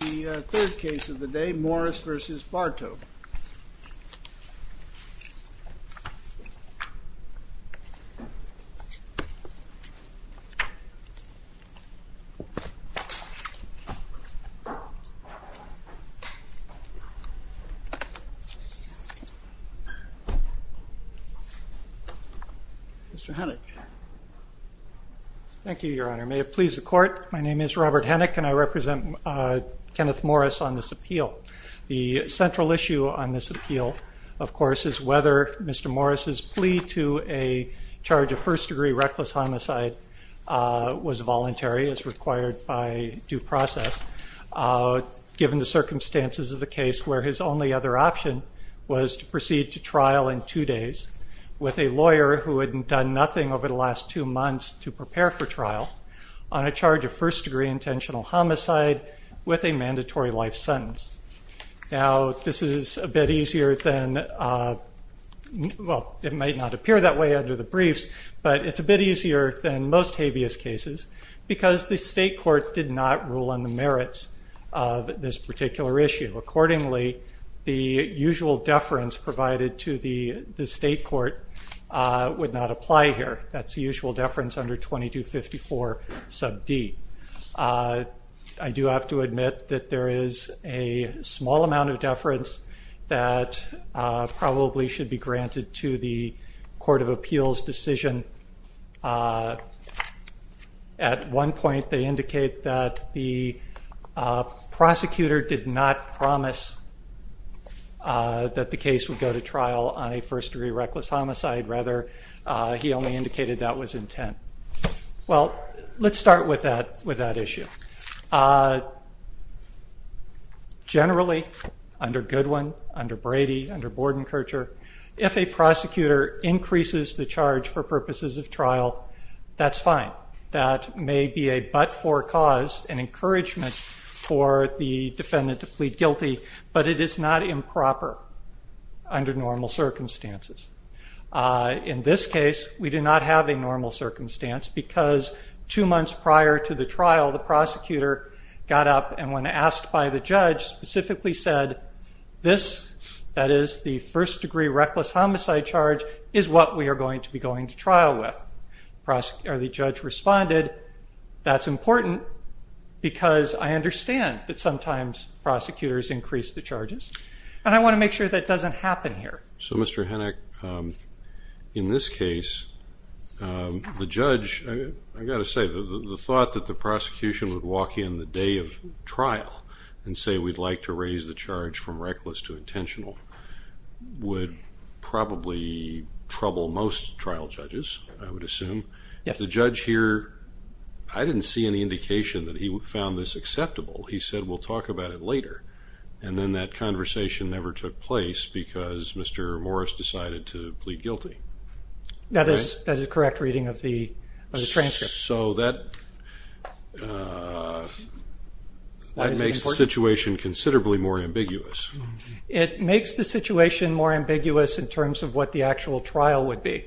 The third case of the day, Morris v. Bartow. Mr. Hennick. Thank you, Your Honor. May it please the court, my name is Robert Hennick and I represent Kenneth Morris on this appeal. The central issue on this appeal, of course, is whether Mr. Morris's plea to a charge of first degree reckless homicide was voluntary, as required by due process, given the circumstances of the case where his only other option was to proceed to trial in two days with a lawyer who had done nothing over the last two months to prepare for trial on a charge of first degree intentional homicide with a mandatory life sentence. Now, this is a bit easier than, well, it might not appear that way under the briefs, but it's a bit easier than most habeas cases because the state court did not rule on the merits of this particular issue. Accordingly, the usual deference provided to the state court would not apply here. That's the usual deference under 2254 sub D. I do have to admit that there is a small amount of deference that probably should be granted to the court of appeals decision. At one point, they indicate that the prosecutor did not promise that the case would go to trial on a first degree reckless homicide. Rather, he only indicated that was intent. Well, let's start with that issue. Generally, under Goodwin, under Brady, under Bordenkercher, if a prosecutor increases the charge for purposes of trial, that's fine. That may be a but-for cause, an encouragement for the defendant to plead guilty, but it is not improper under normal circumstances. In this case, we do not have a normal circumstance because two months prior to the trial, the prosecutor got up and when asked by the judge, specifically said, this, that is the first degree reckless homicide charge, is what we are going to be going to trial with. The judge responded, that's important because I understand that sometimes prosecutors increase the charges. And I want to make sure that doesn't happen here. So Mr. Hennock, in this case, the judge, I've got to say, the thought that the prosecution would walk in the day of trial and say we'd like to raise the charge from reckless to intentional would probably trouble most trial judges, I would assume. The judge here, I didn't see any indication He said, we'll talk about it later. And then that conversation never took place because Mr. Morris decided to plead guilty. That is a correct reading of the transcript. So that makes the situation considerably more ambiguous. It makes the situation more ambiguous in terms of what the actual trial would be.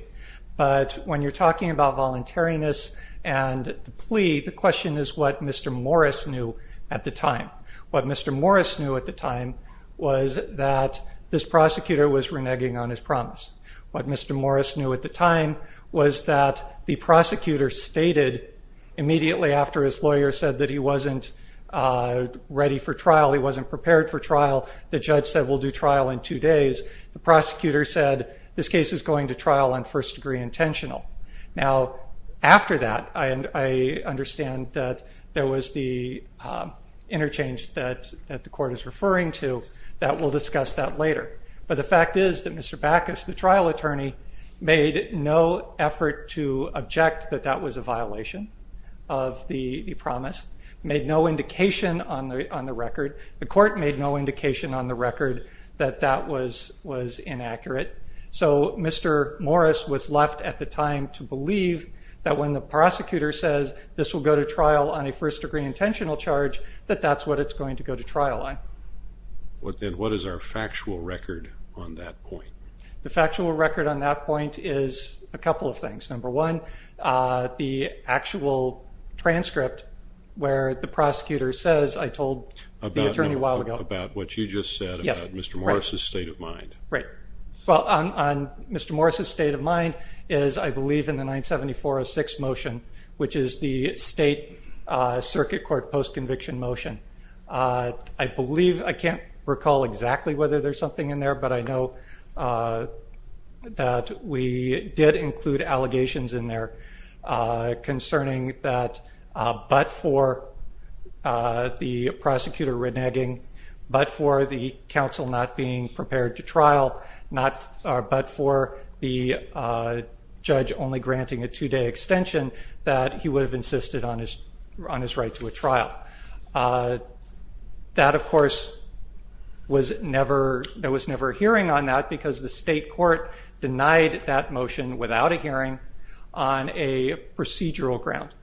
But when you're talking about voluntariness and the plea, the question is what Mr. Morris knew at the time. What Mr. Morris knew at the time was that this prosecutor was reneging on his promise. What Mr. Morris knew at the time was that the prosecutor stated immediately after his lawyer said that he wasn't ready for trial, he wasn't prepared for trial, the judge said, we'll do trial in two days. The prosecutor said, this case is going to trial on first degree intentional. Now after that, I understand that there are changes that the court is referring to that we'll discuss that later. But the fact is that Mr. Backus, the trial attorney, made no effort to object that that was a violation of the promise, made no indication on the record. The court made no indication on the record that that was inaccurate. So Mr. Morris was left at the time to believe that when the prosecutor says this will go to trial on a first degree intentional charge, that that's what it's going to go to trial on. And what is our factual record on that point? The factual record on that point is a couple of things. Number one, the actual transcript where the prosecutor says, I told the attorney a while ago. About what you just said about Mr. Morris' state of mind. Right. Well, on Mr. Morris' state of mind is, I believe, in the 97406 motion, which is the state circuit court post-conviction motion. I can't recall exactly whether there's something in there, but I know that we did include allegations in there concerning that but for the prosecutor reneging, but for the counsel not being prepared to trial, but for the judge only granting a two-day extension, that he would have insisted on his right to a trial. That, of course, there was never a hearing on that because the state court denied that motion without a hearing on a procedural ground.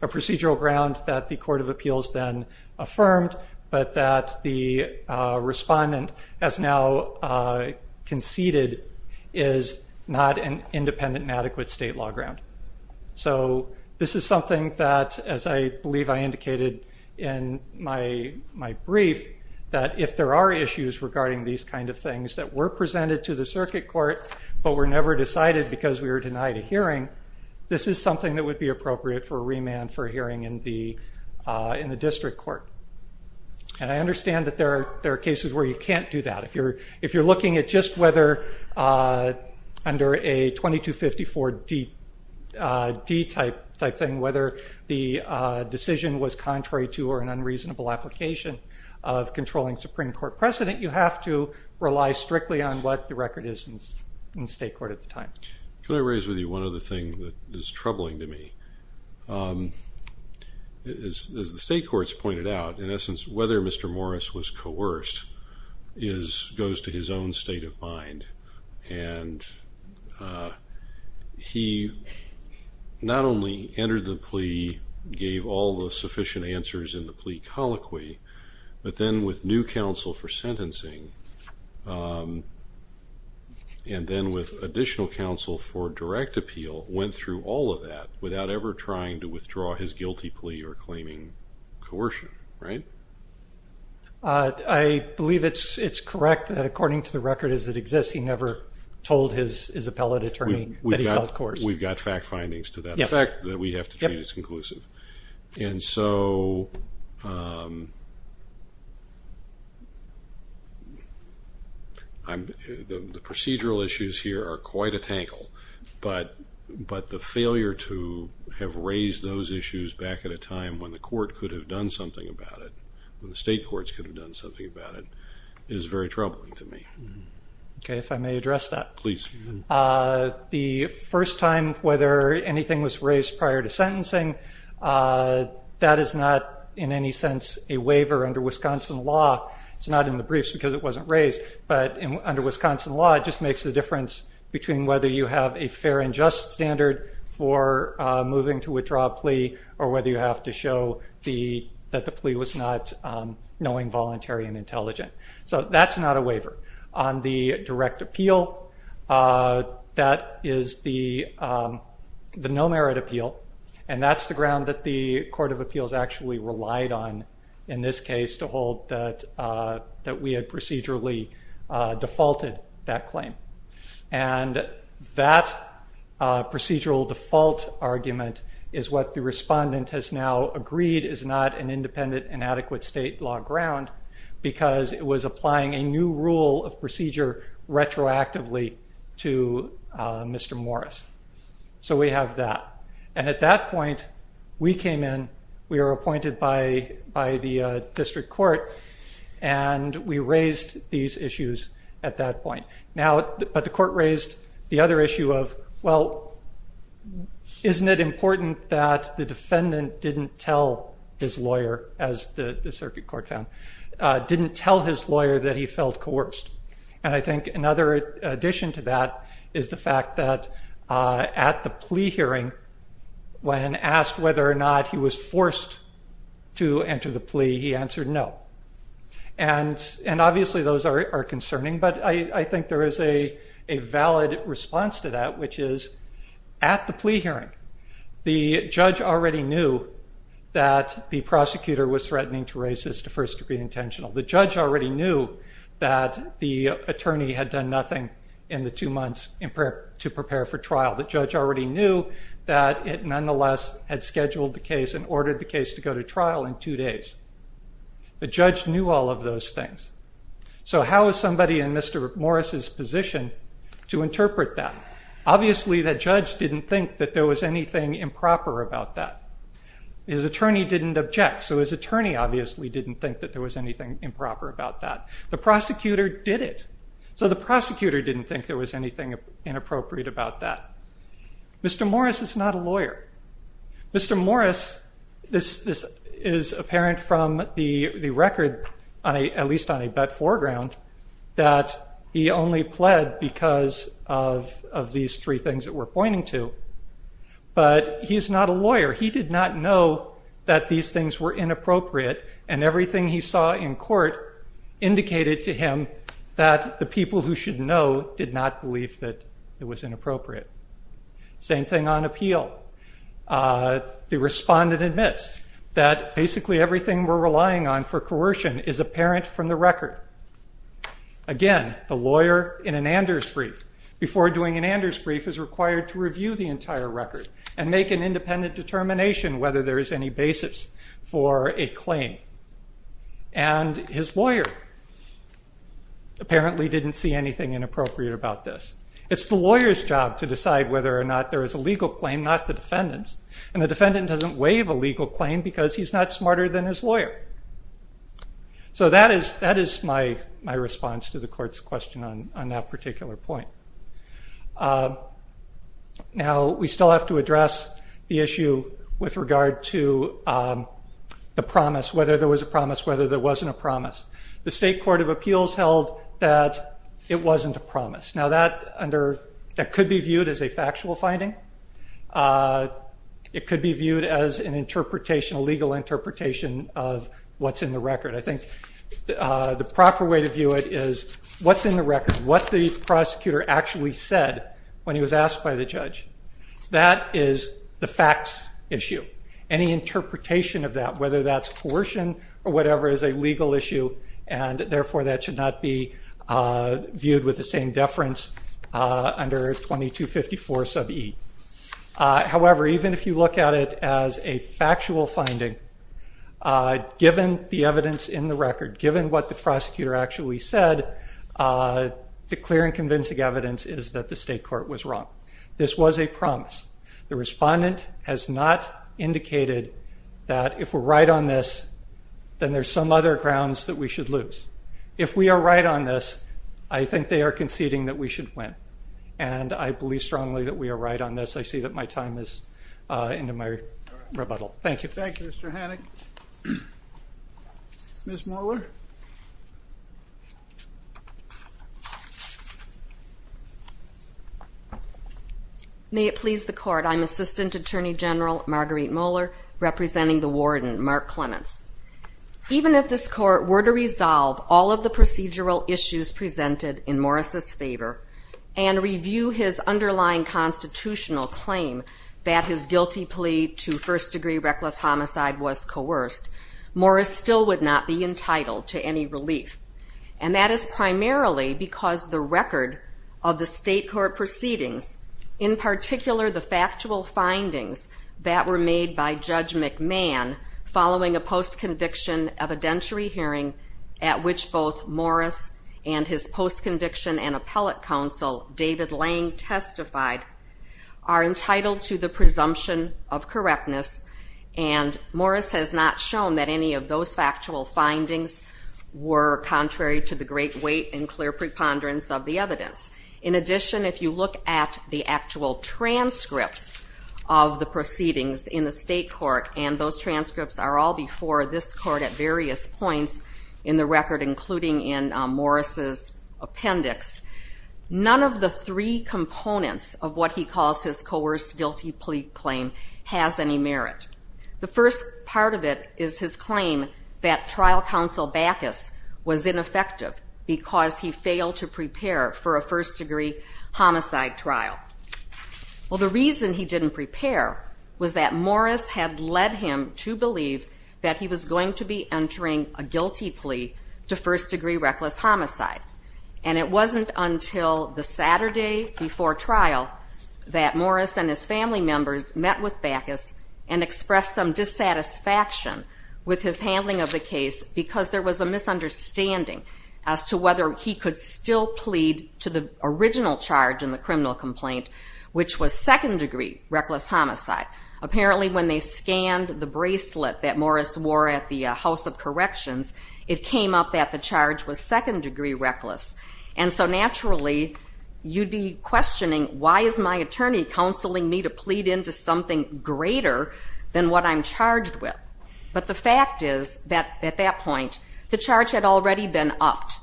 A procedural ground that the Court of Appeals then affirmed, but that the respondent has now conceded is not an independent and adequate state law ground. So this is something that, as I believe I indicated in my brief, that if there are issues regarding these kind of things that were presented to the circuit court, but were never decided because we were denied a hearing, this is something that would be appropriate for remand for hearing in the district court. And I understand that there are cases where you can't do that. If you're looking at just whether under a 2254-D type thing, whether the decision was contrary to or an unreasonable application of controlling Supreme Court precedent, you have to rely strictly on what the record is in the state court at the time. Can I raise with you one other thing that is troubling to me? As the state courts pointed out, in essence, whether Mr. Morris was coerced goes to his own state of mind. And he not only entered the plea, gave all the sufficient answers in the plea colloquy, but then with new counsel for sentencing, and then with additional counsel for direct appeal, went through all of that without ever trying to withdraw his guilty plea or claiming coercion, right? I believe it's correct that according to the record as it exists, he never told his appellate attorney that he felt coerced. We've got fact findings to that effect that we have to treat as conclusive. And so the procedural issues here are quite a tangle. But the failure to have raised those issues back at a time when the court could have done something about it, when the state courts could have done something about it, is very troubling to me. OK, if I may address that. Please. The first time whether anything was raised prior to sentencing, that is not in any sense a waiver under Wisconsin law. It's not in the briefs because it wasn't raised. But under Wisconsin law, it just makes the difference between whether you have a fair and just standard for moving to withdraw a plea or whether you have to show that the plea was not knowing, voluntary, and intelligent. So that's not a waiver. On the direct appeal, that is the no merit appeal. And that's the ground that the Court of Appeals actually relied on in this case to hold that we had procedurally defaulted that claim. And that procedural default argument is what the respondent has now agreed is not an independent, inadequate state law ground because it was applying a new rule of procedure retroactively to Mr. Morris. So we have that. And at that point, we came in. We were appointed by the district court. And we raised these issues at that point. But the court raised the other issue of, well, isn't it important that the defendant didn't tell his lawyer, as the circuit court found, didn't tell his lawyer that he felt coerced? And I think another addition to that is the fact that at the plea hearing, when asked whether or not he was forced to enter the plea, he answered no. And obviously, those are concerning. But I think there is a valid response to that, which is at the plea hearing, the judge already knew that the prosecutor was threatening to raise this to first degree intentional. The judge already knew that the attorney had done nothing in the two months to prepare for trial. The judge already knew that it nonetheless had scheduled the case and ordered the case to go to trial in two days. The judge knew all of those things. So how is somebody in Mr. Morris's position to interpret that? Obviously, the judge didn't think that there was anything improper about that. His attorney didn't object. So his attorney obviously didn't think that there was anything improper about that. The prosecutor did it. So the prosecutor didn't think there was anything inappropriate about that. Mr. Morris is not a lawyer. Mr. Morris, this is apparent from the record, at least on a bet foreground, that he only pled because of these three things that we're pointing to. But he is not a lawyer. He did not know that these things were inappropriate. And everything he saw in court indicated to him that the people who should know did not believe that it was inappropriate. Same thing on appeal. The respondent admits that basically everything we're relying on for coercion is apparent from the record. Again, the lawyer in an Anders brief, before doing an Anders brief, is required to review the entire record and make an independent determination whether there is any basis for a claim. And his lawyer apparently didn't see anything inappropriate about this. It's the lawyer's job to decide whether or not there is a legal claim, not the defendant's. And the defendant doesn't waive a legal claim because he's not smarter than his lawyer. So that is my response to the court's question on that particular point. Now, we still have to address the issue with regard to the promise, whether there was a promise, whether there wasn't a promise. The State Court of Appeals held that it wasn't a promise. Now, that could be viewed as a factual finding. It could be viewed as an interpretation, a legal interpretation, of what's in the record. I think the proper way to view it is what's in the record, what the prosecutor actually said when he was asked by the judge. That is the facts issue. Any interpretation of that, whether that's coercion or whatever, is a legal issue. And therefore, that should not be in deference under 2254 sub e. However, even if you look at it as a factual finding, given the evidence in the record, given what the prosecutor actually said, the clear and convincing evidence is that the state court was wrong. This was a promise. The respondent has not indicated that if we're right on this, then there's some other grounds that we should lose. If we are right on this, I think they are conceding that we should win. And I believe strongly that we are right on this. I see that my time is into my rebuttal. Thank you. Thank you, Mr. Hannock. Ms. Mohler? May it please the court, I'm Assistant Attorney General Marguerite Mohler, representing the warden, Mark Clements. Even if this court were to resolve all of the procedural issues presented in Morris's favor and review his underlying constitutional claim that his guilty plea to first degree reckless homicide was coerced, Morris still would not be entitled to any relief. And that is primarily because the record of the state court proceedings, in particular the factual findings that were made by Judge McMahon following a post-conviction evidentiary hearing at which both Morris and his post-conviction and appellate counsel, David Lang, testified, are entitled to the presumption of correctness. And Morris has not shown that any of those factual findings were contrary to the great weight and clear preponderance of the evidence. In addition, if you look at the actual transcripts of the proceedings in the state court, and those transcripts are all before this court at various points in the record, including in Morris's appendix, none of the three components of what he calls his coerced guilty plea claim has any merit. The first part of it is his claim that trial counsel Bacchus was ineffective because he failed to prepare for a first degree homicide trial. Well, the reason he didn't prepare was that Morris had led him to believe that he was going to be entering a guilty plea to first degree reckless homicide. And it wasn't until the Saturday before trial that Morris and his family members met with Bacchus and expressed some dissatisfaction with his handling of the case because there was a misunderstanding as to whether he could still charge in the criminal complaint, which was second degree reckless homicide. Apparently, when they scanned the bracelet that Morris wore at the House of Corrections, it came up that the charge was second degree reckless. And so naturally, you'd be questioning, why is my attorney counseling me to plead into something greater than what I'm charged with? But the fact is that at that point, the charge had already been upped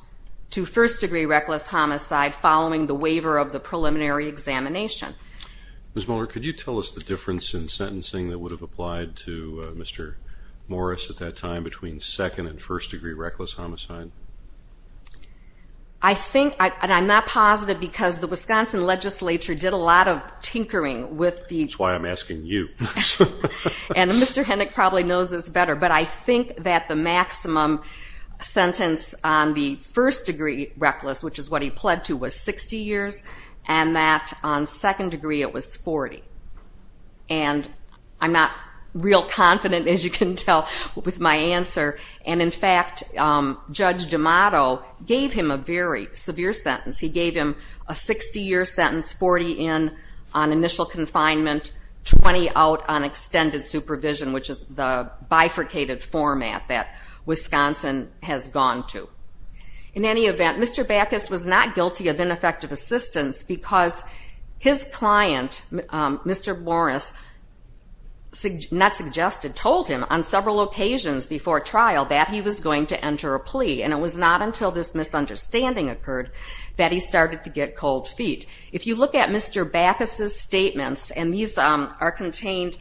to first degree reckless homicide following the waiver of the preliminary examination. Ms. Mohler, could you tell us the difference in sentencing that would have applied to Mr. Morris at that time between second and first degree reckless homicide? I think, and I'm not positive because the Wisconsin legislature did a lot of tinkering with the- That's why I'm asking you. And Mr. Henick probably knows this better. But I think that the maximum sentence on the first degree reckless, which is what he pled to, was 60 years, and that on second degree, it was 40. And I'm not real confident, as you can tell, with my answer. And in fact, Judge D'Amato gave him a very severe sentence. He gave him a 60-year sentence, 40 in on initial confinement, 20 out on extended supervision, which is the bifurcated format that Wisconsin has gone to. In any event, Mr. Backus was not guilty of ineffective assistance because his client, Mr. Morris, not suggested, told him on several occasions before trial that he was going to enter a plea. And it was not until this misunderstanding occurred that he started to get cold feet. If you look at Mr. Backus's statements, and these are contained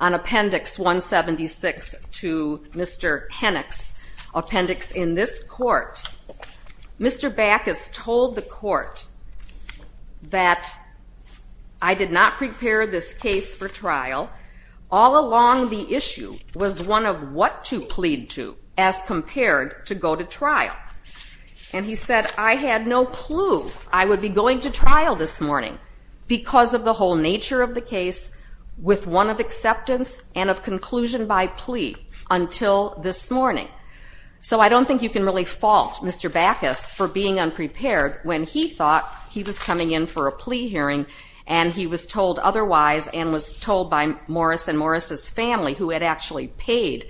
on Appendix 176 to Mr. Henick's appendix in this court, Mr. Backus told the court that, I did not prepare this case for trial. All along, the issue was one of what to plead to, as compared to go to trial. And he said, I had no clue I would be going to trial this morning because of the whole nature of the case, with one of acceptance and of conclusion by plea, until this morning. So I don't think you can really fault Mr. Backus for being unprepared when he thought he was coming in for a plea hearing, and he was told otherwise, and was told by Morris and Morris's family, who had actually paid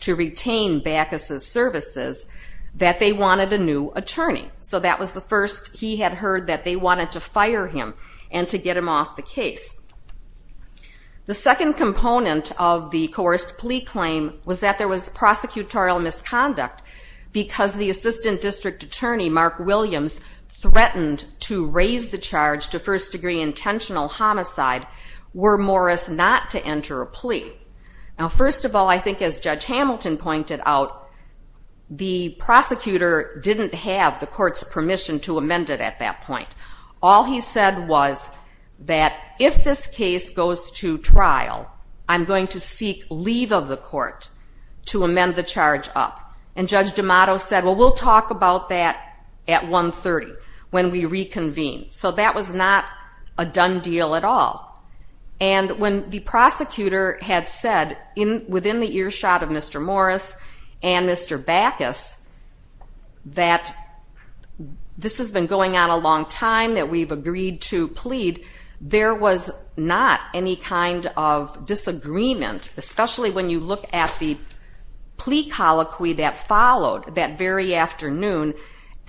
to retain Backus's services, that they wanted a new attorney. So that was the first he had heard that they wanted to fire him and to get him off the case. The second component of the coerced plea claim was that there was prosecutorial misconduct, because the assistant district attorney, Mark Williams, threatened to raise the charge to first degree intentional homicide were Morris not to enter a plea. Now, first of all, I think as Judge Hamilton pointed out, the prosecutor didn't have the court's permission to amend it at that point. All he said was that if this case goes to trial, I'm going to seek leave of the court to amend the charge up. And Judge D'Amato said, well, we'll talk about that at 1.30 when we reconvene. So that was not a done deal at all. And when the prosecutor had said, within the earshot of Mr. Morris and Mr. Backus, that this has been going on a long time, that we've agreed to plead, there was not any kind of disagreement, especially when you look at the plea colloquy that followed that very afternoon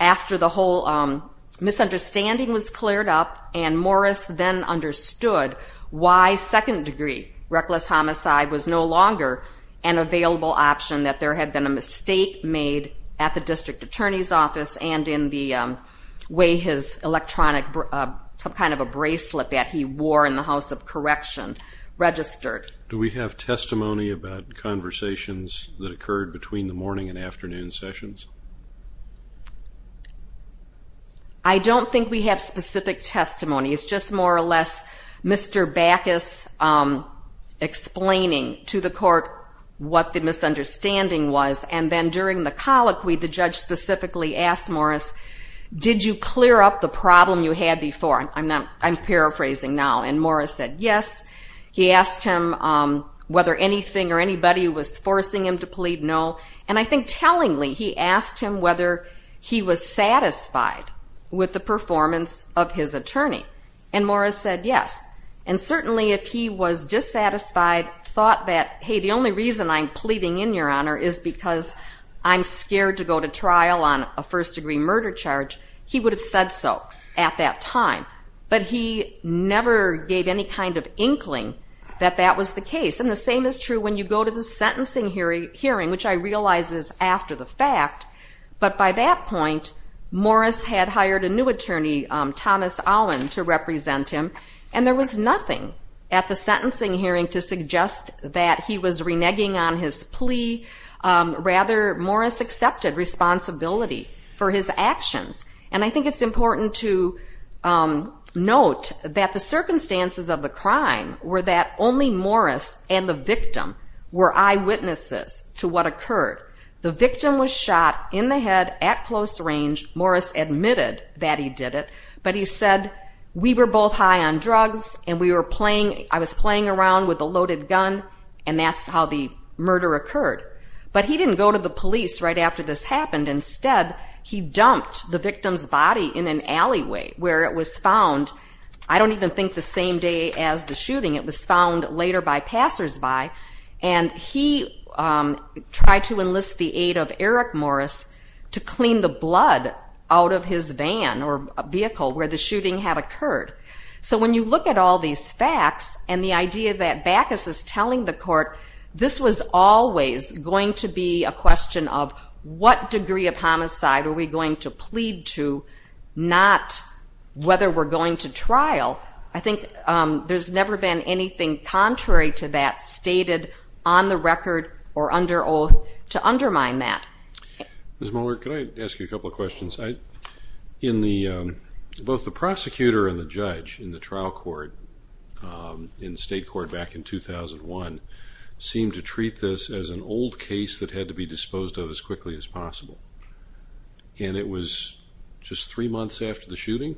after the whole misunderstanding was cleared up and Morris then understood why second degree reckless homicide was no longer an available option, that there had been a mistake made at the district attorney's office and in the way his electronic, some kind of a bracelet that he wore in the House of Correction registered. Do we have testimony about conversations that occurred between the morning and afternoon sessions? I don't think we have specific testimony. It's just more or less Mr. Backus explaining to the court what the misunderstanding was. And then during the colloquy, the judge specifically asked Morris, did you clear up the problem you had before? I'm paraphrasing now. And Morris said, yes. He asked him whether anything or anybody was forcing him to plead, no. And I think tellingly, he asked him whether he was satisfied with the performance of his attorney. And Morris said, yes. And certainly if he was dissatisfied, thought that, hey, the only reason I'm pleading in your honor is because I'm scared to go to trial on a first degree murder charge, he would have said so at that time. But he never gave any kind of inkling that that was the case. And the same is true when you go to the sentencing hearing, which I realize is after the fact. But by that point, Morris had hired a new attorney, Thomas Allen, to represent him. And there was nothing at the sentencing hearing to suggest that he was reneging on his plea. Rather, Morris accepted responsibility for his actions. And I think it's important to note that the circumstances of the crime were that only Morris and the victim were eyewitnesses to what occurred. The victim was shot in the head at close range. Morris admitted that he did it. But he said, we were both high on drugs and we were playing, I was playing around with a loaded gun, and that's how the murder occurred. But he didn't go to the police right after this happened. Instead, he dumped the victim's body in an alleyway where it was found, I don't even think the same day as the shooting, it was found later by passersby. And he tried to enlist the aid of Eric Morris to clean the blood out of his van or vehicle where the shooting had occurred. So when you look at all these facts and the idea that Bacchus is telling the court this was always going to be a question of what degree of homicide are we going to plead to, not whether we're going to trial, I think there's never been anything contrary to that stated on the record or under oath to undermine that. Ms. Mohler, can I ask you a couple of questions? In the, both the prosecutor and the judge in the trial court in state court back in 2001, seemed to treat this as an old case that had to be disposed of as quickly as possible. And it was just three months after the shooting?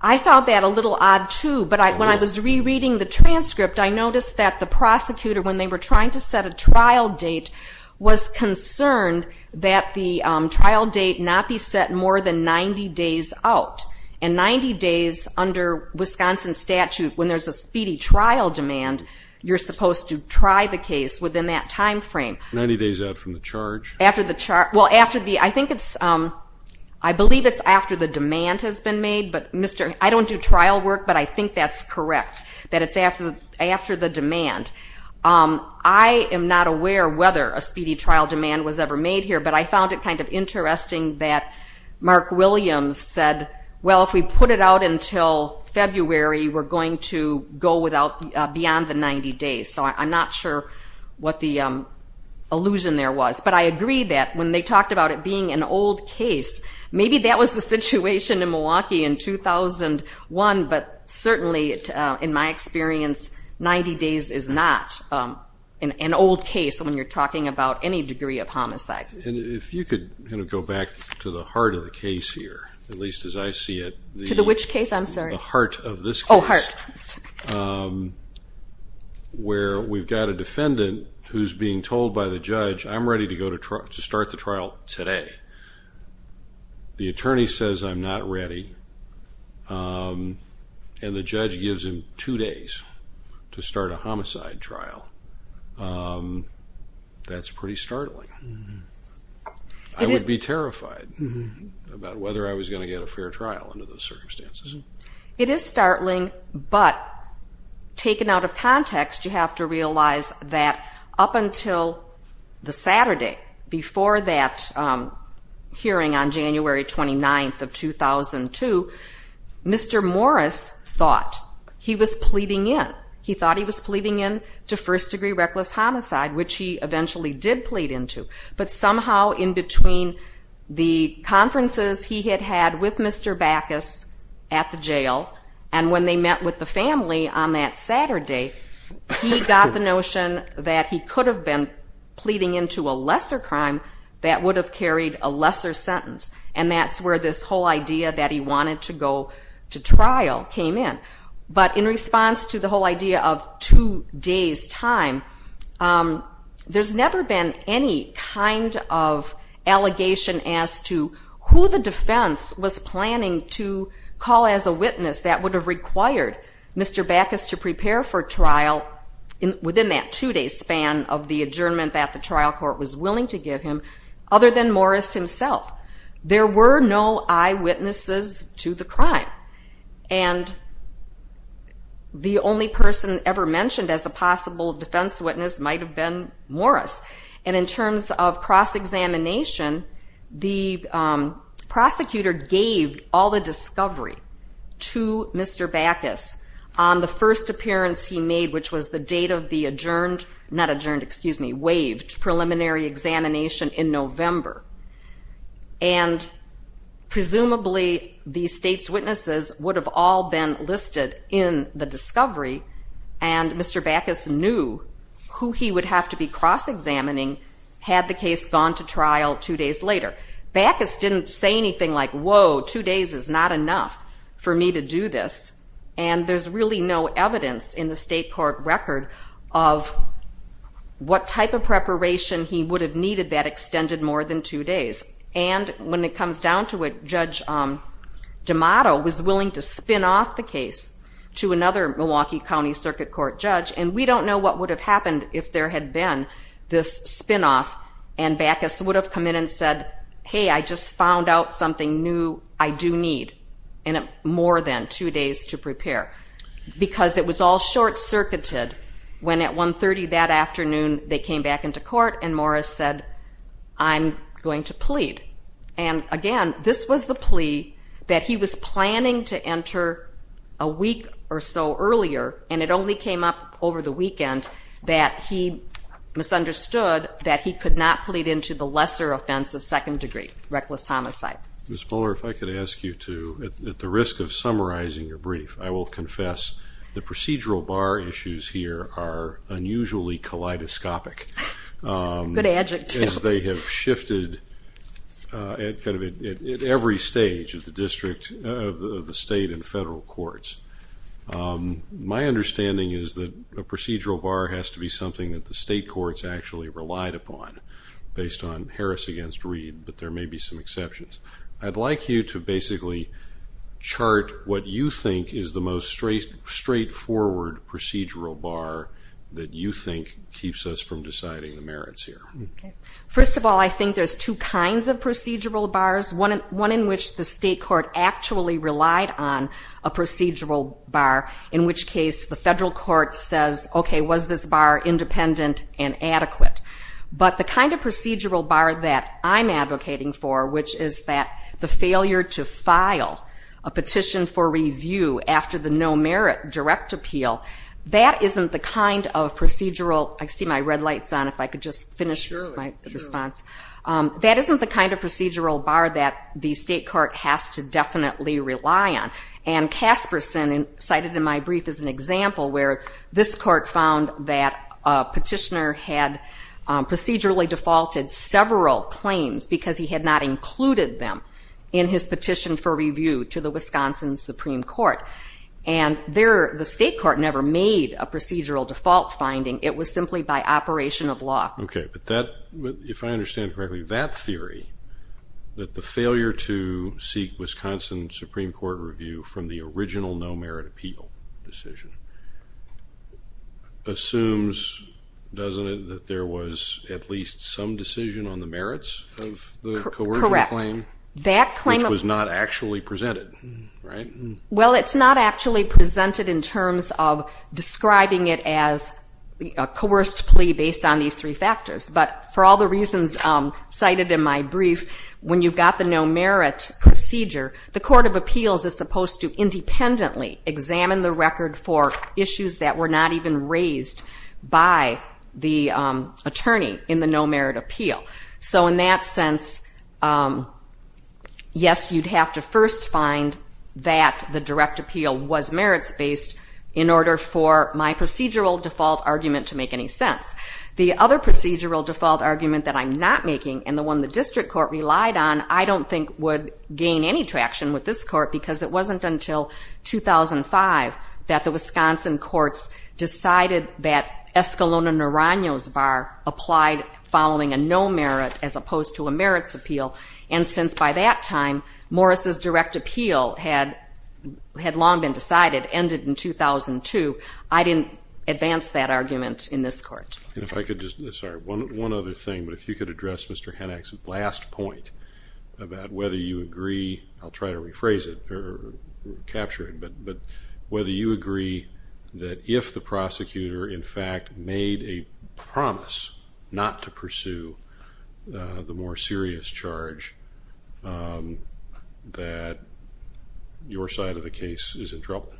I found that a little odd too, but when I was rereading the transcript, I noticed that the prosecutor, when they were trying to set a trial date, was concerned that the trial date not be set more than 90 days out. And 90 days under Wisconsin statute, when there's a speedy trial demand, you're supposed to try the case within that timeframe. 90 days out from the charge? After the charge, well, after the, I think it's, I believe it's after the demand has been made, but Mr., I don't do trial work, but I think that's correct, that it's after the demand. I am not aware whether a speedy trial demand was ever made here, but I found it kind of interesting that Mark Williams said, well, if we put it out until February, we're going to go beyond the 90 days. So I'm not sure what the allusion there was, but I agree that when they talked about it being an old case, maybe that was the situation in Milwaukee in 2001, but certainly in my experience, 90 days is not an old case when you're talking about any degree of homicide. And if you could kind of go back to the heart of the case here, at least as I see it. To the which case? I'm sorry. The heart of this case. Oh, heart. Where we've got a defendant who's being told by the judge, I'm ready to go to start the trial today. The attorney says, I'm not ready. And the judge gives him two days to start a homicide trial. That's pretty startling. I would be terrified about whether I was going to get a fair trial under those circumstances. It is startling, but taken out of context, you have to realize that up until the Saturday before that hearing on January 29th of 2002, Mr. Morris thought he was pleading in. He thought he was pleading in to first degree reckless homicide, which he eventually did plead into. But somehow in between the conferences he had had with Mr. Backus at the jail, and when they met with the family on that Saturday, he got the notion that he could have been pleading into a lesser crime that would have carried a lesser sentence. And that's where this whole idea that he wanted to go to trial came in. But in response to the whole idea of two days time, there's never been any kind of allegation as to who the defense was planning to call as a witness that would have required Mr. Backus to prepare for trial within that two day span of the adjournment that the trial court was willing to give him, other than Morris himself. There were no eyewitnesses to the crime. And the only person ever mentioned as a possible defense witness might have been Morris. And in terms of cross-examination, the prosecutor gave all the discovery to Mr. Backus on the first appearance he made, which was the date of the adjourned, not adjourned, excuse me, waived preliminary examination in November. And presumably the state's witnesses would have all been listed in the discovery. And Mr. Backus knew who he would have to be cross-examining had the case gone to trial two days later. Backus didn't say anything like, whoa, two days is not enough for me to do this. And there's really no evidence in the state court record of what type of preparation he would have needed that extended more than two days. And when it comes down to it, Judge D'Amato was willing to spin off the case to another Milwaukee County Circuit Court judge. And we don't know what would have happened if there had been this spinoff and Backus would have come in and said, hey, I just found out something new I do need in more than two days to prepare. Because it was all short-circuited when at 1.30 that afternoon, they came back into court and Morris said, I'm going to plead. And again, this was the plea that he was planning to enter a week or so earlier, and it only came up over the weekend that he misunderstood that he could not plead into the lesser offense of second degree reckless homicide. Ms. Poehler, if I could ask you to, at the risk of summarizing your brief, I will confess the procedural bar issues here are unusually kaleidoscopic. Good adjective. As they have shifted at every stage of the state and federal courts. My understanding is that a procedural bar has to be something that the state courts actually relied upon based on Harris against Reed, but there may be some exceptions. I'd like you to basically chart what you think is the most straightforward procedural bar that you think keeps us from deciding the merits here. First of all, I think there's two kinds of procedural bars. One in which the state court actually relied on a procedural bar, in which case the federal court says, okay, was this bar independent and adequate? But the kind of procedural bar that I'm advocating for, which is that the failure to file a petition for review after the no merit direct appeal, that isn't the kind of procedural, I see my red lights on, if I could just finish my response. That isn't the kind of procedural bar that the state court has to definitely rely on. And Casperson cited in my brief as an example where this court found that a petitioner had procedurally defaulted several claims because he had not included them in his petition for review to the Wisconsin Supreme Court. And the state court never made a procedural default finding. It was simply by operation of law. Okay, but if I understand correctly, that theory, that the failure to seek Wisconsin Supreme Court review from the original no merit appeal decision assumes, doesn't it, that there was at least some decision on the merits of the coercion claim, which was not actually presented, right? Well, it's not actually presented in terms of describing it as a coerced plea based on these three factors. But for all the reasons cited in my brief, when you've got the no merit procedure, the court of appeals is supposed to independently examine the record for issues that were not even raised by the attorney in the no merit appeal. So in that sense, yes, you'd have to first find that the direct appeal was merits-based in order for my procedural default argument to make any sense. The other procedural default argument that I'm not making, and the one the district court relied on, I don't think would gain any traction with this court because it wasn't until 2005 that the Wisconsin courts decided that Escalona-Naraño's bar applied following a no merit as opposed to a merits appeal. And since by that time, Morris's direct appeal had long been decided, ended in 2002, I didn't advance that argument in this court. Sorry, one other thing, but if you could address Mr. Hennack's last point about whether you agree, I'll try to rephrase it or capture it, but whether you agree that if the prosecutor in fact made a promise not to pursue the more serious charge that your side of the case is in trouble.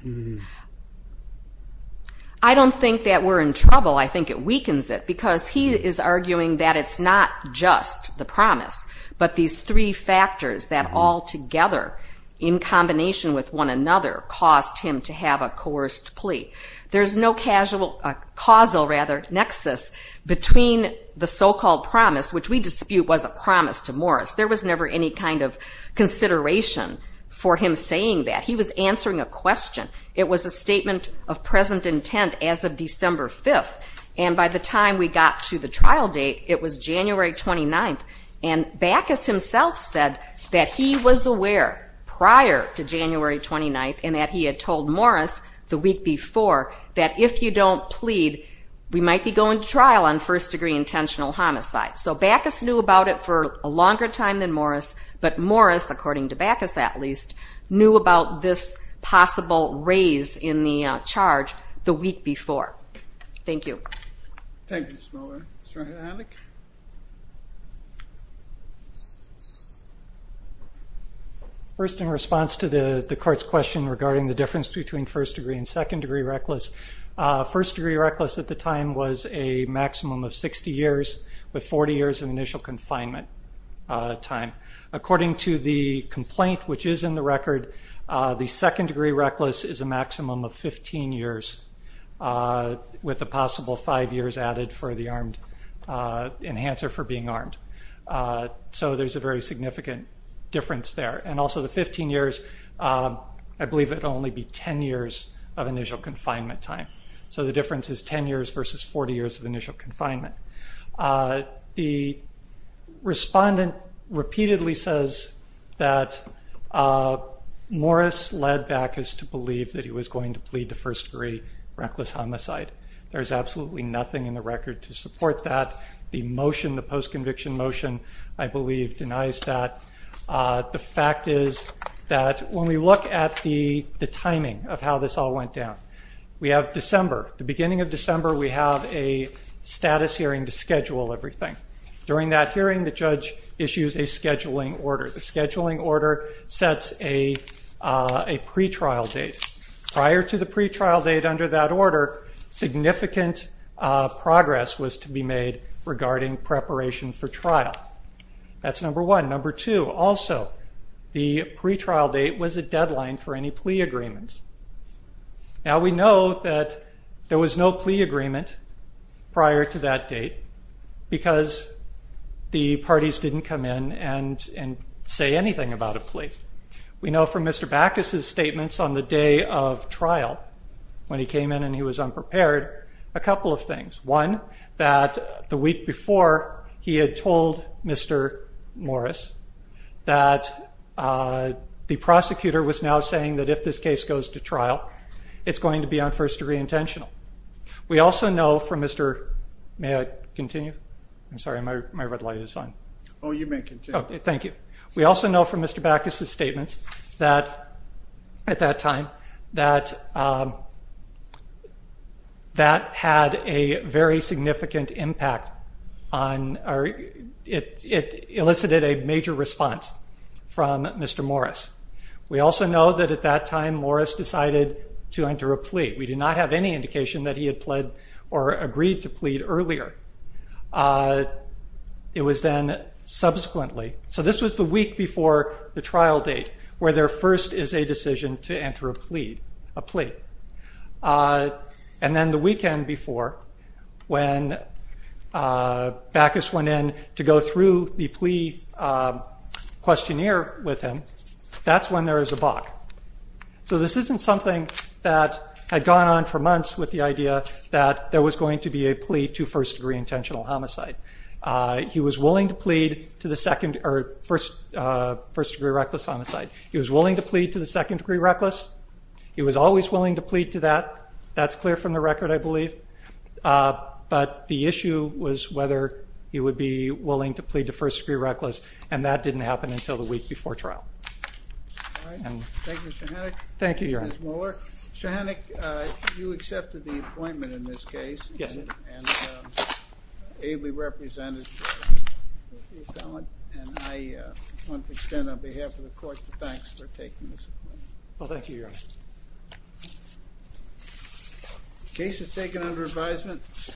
I don't think that we're in trouble. I think it weakens it because he is arguing that it's not just the promise, but these three factors that all together in combination with one another caused him to have a coerced plea. There's no causal nexus between the so-called promise, which we dispute was a promise to Morris. There was never any kind of consideration for him saying that. He was answering a question. It was a statement of present intent as of December 5th. And by the time we got to the trial date, it was January 29th. And Bacchus himself said that he was aware prior to January 29th and that he had told Morris the week before that if you don't plead, we might be going to trial on first degree intentional homicide. So Bacchus knew about it for a longer time than Morris, but Morris, according to Bacchus at least, knew about this possible raise in the charge the week before. Thank you. Thank you, Ms. Moeller. Mr. Haneke? First, in response to the court's question regarding the difference between first degree and second degree reckless, first degree reckless at the time was a maximum of 60 years with 40 years of initial confinement time. According to the complaint, which is in the record, the second degree reckless is a maximum of 15 years with a possible five years added for the enhanced or for being armed. So there's a very significant difference there. And also the 15 years, I believe it only be 10 years of initial confinement time. So the difference is 10 years versus 40 years of initial confinement. The respondent repeatedly says that Morris led Bacchus to believe that he was going to plead to first degree reckless homicide. There's absolutely nothing in the record to support that. The motion, the post conviction motion, I believe denies that. The fact is that when we look at the timing we have December, the beginning of December, we have a status hearing to schedule everything. During that hearing, the judge issues a scheduling order. The scheduling order sets a pre-trial date. Prior to the pre-trial date under that order, significant progress was to be made regarding preparation for trial. That's number one. Number two, also the pre-trial date was a deadline for any plea agreements. Now we know that there was no plea agreement prior to that date because the parties didn't come in and say anything about a plea. We know from Mr. Bacchus' statements on the day of trial when he came in and he was unprepared, a couple of things. One, that the week before he had told Mr. Morris that the prosecutor was now saying that if this case goes to trial, it's going to be on first degree intentional. We also know from Mr., may I continue? I'm sorry, my red light is on. Oh, you may continue. Okay, thank you. We also know from Mr. Bacchus' statements that at that time, that had a very significant impact on, it elicited a major response from Mr. Morris. We also know that at that time, Morris decided to enter a plea. We do not have any indication that he had pled or agreed to plead earlier. It was then subsequently, so this was the week before the trial date where there first is a decision to enter a plea. And then the weekend before when Bacchus went in to go through the plea questionnaire with him, that's when there is a Bacch. So this isn't something that had gone on for months with the idea that there was going to be a plea to first degree intentional homicide. He was willing to plead to the second or first degree reckless homicide. He was willing to plead to the second degree reckless. He was always willing to plead to that. That's clear from the record, I believe. But the issue was whether he would be willing to plead to first degree reckless. And that didn't happen until the week before trial. Thank you, Mr. Hennick. Thank you, Your Honor. Mr. Hennick, you accepted the appointment in this case. Yes, I did. And ably represented your felon. And I want to extend on behalf of the court, thanks for taking this appointment. Well, thank you, Your Honor. Case is taken under advisement.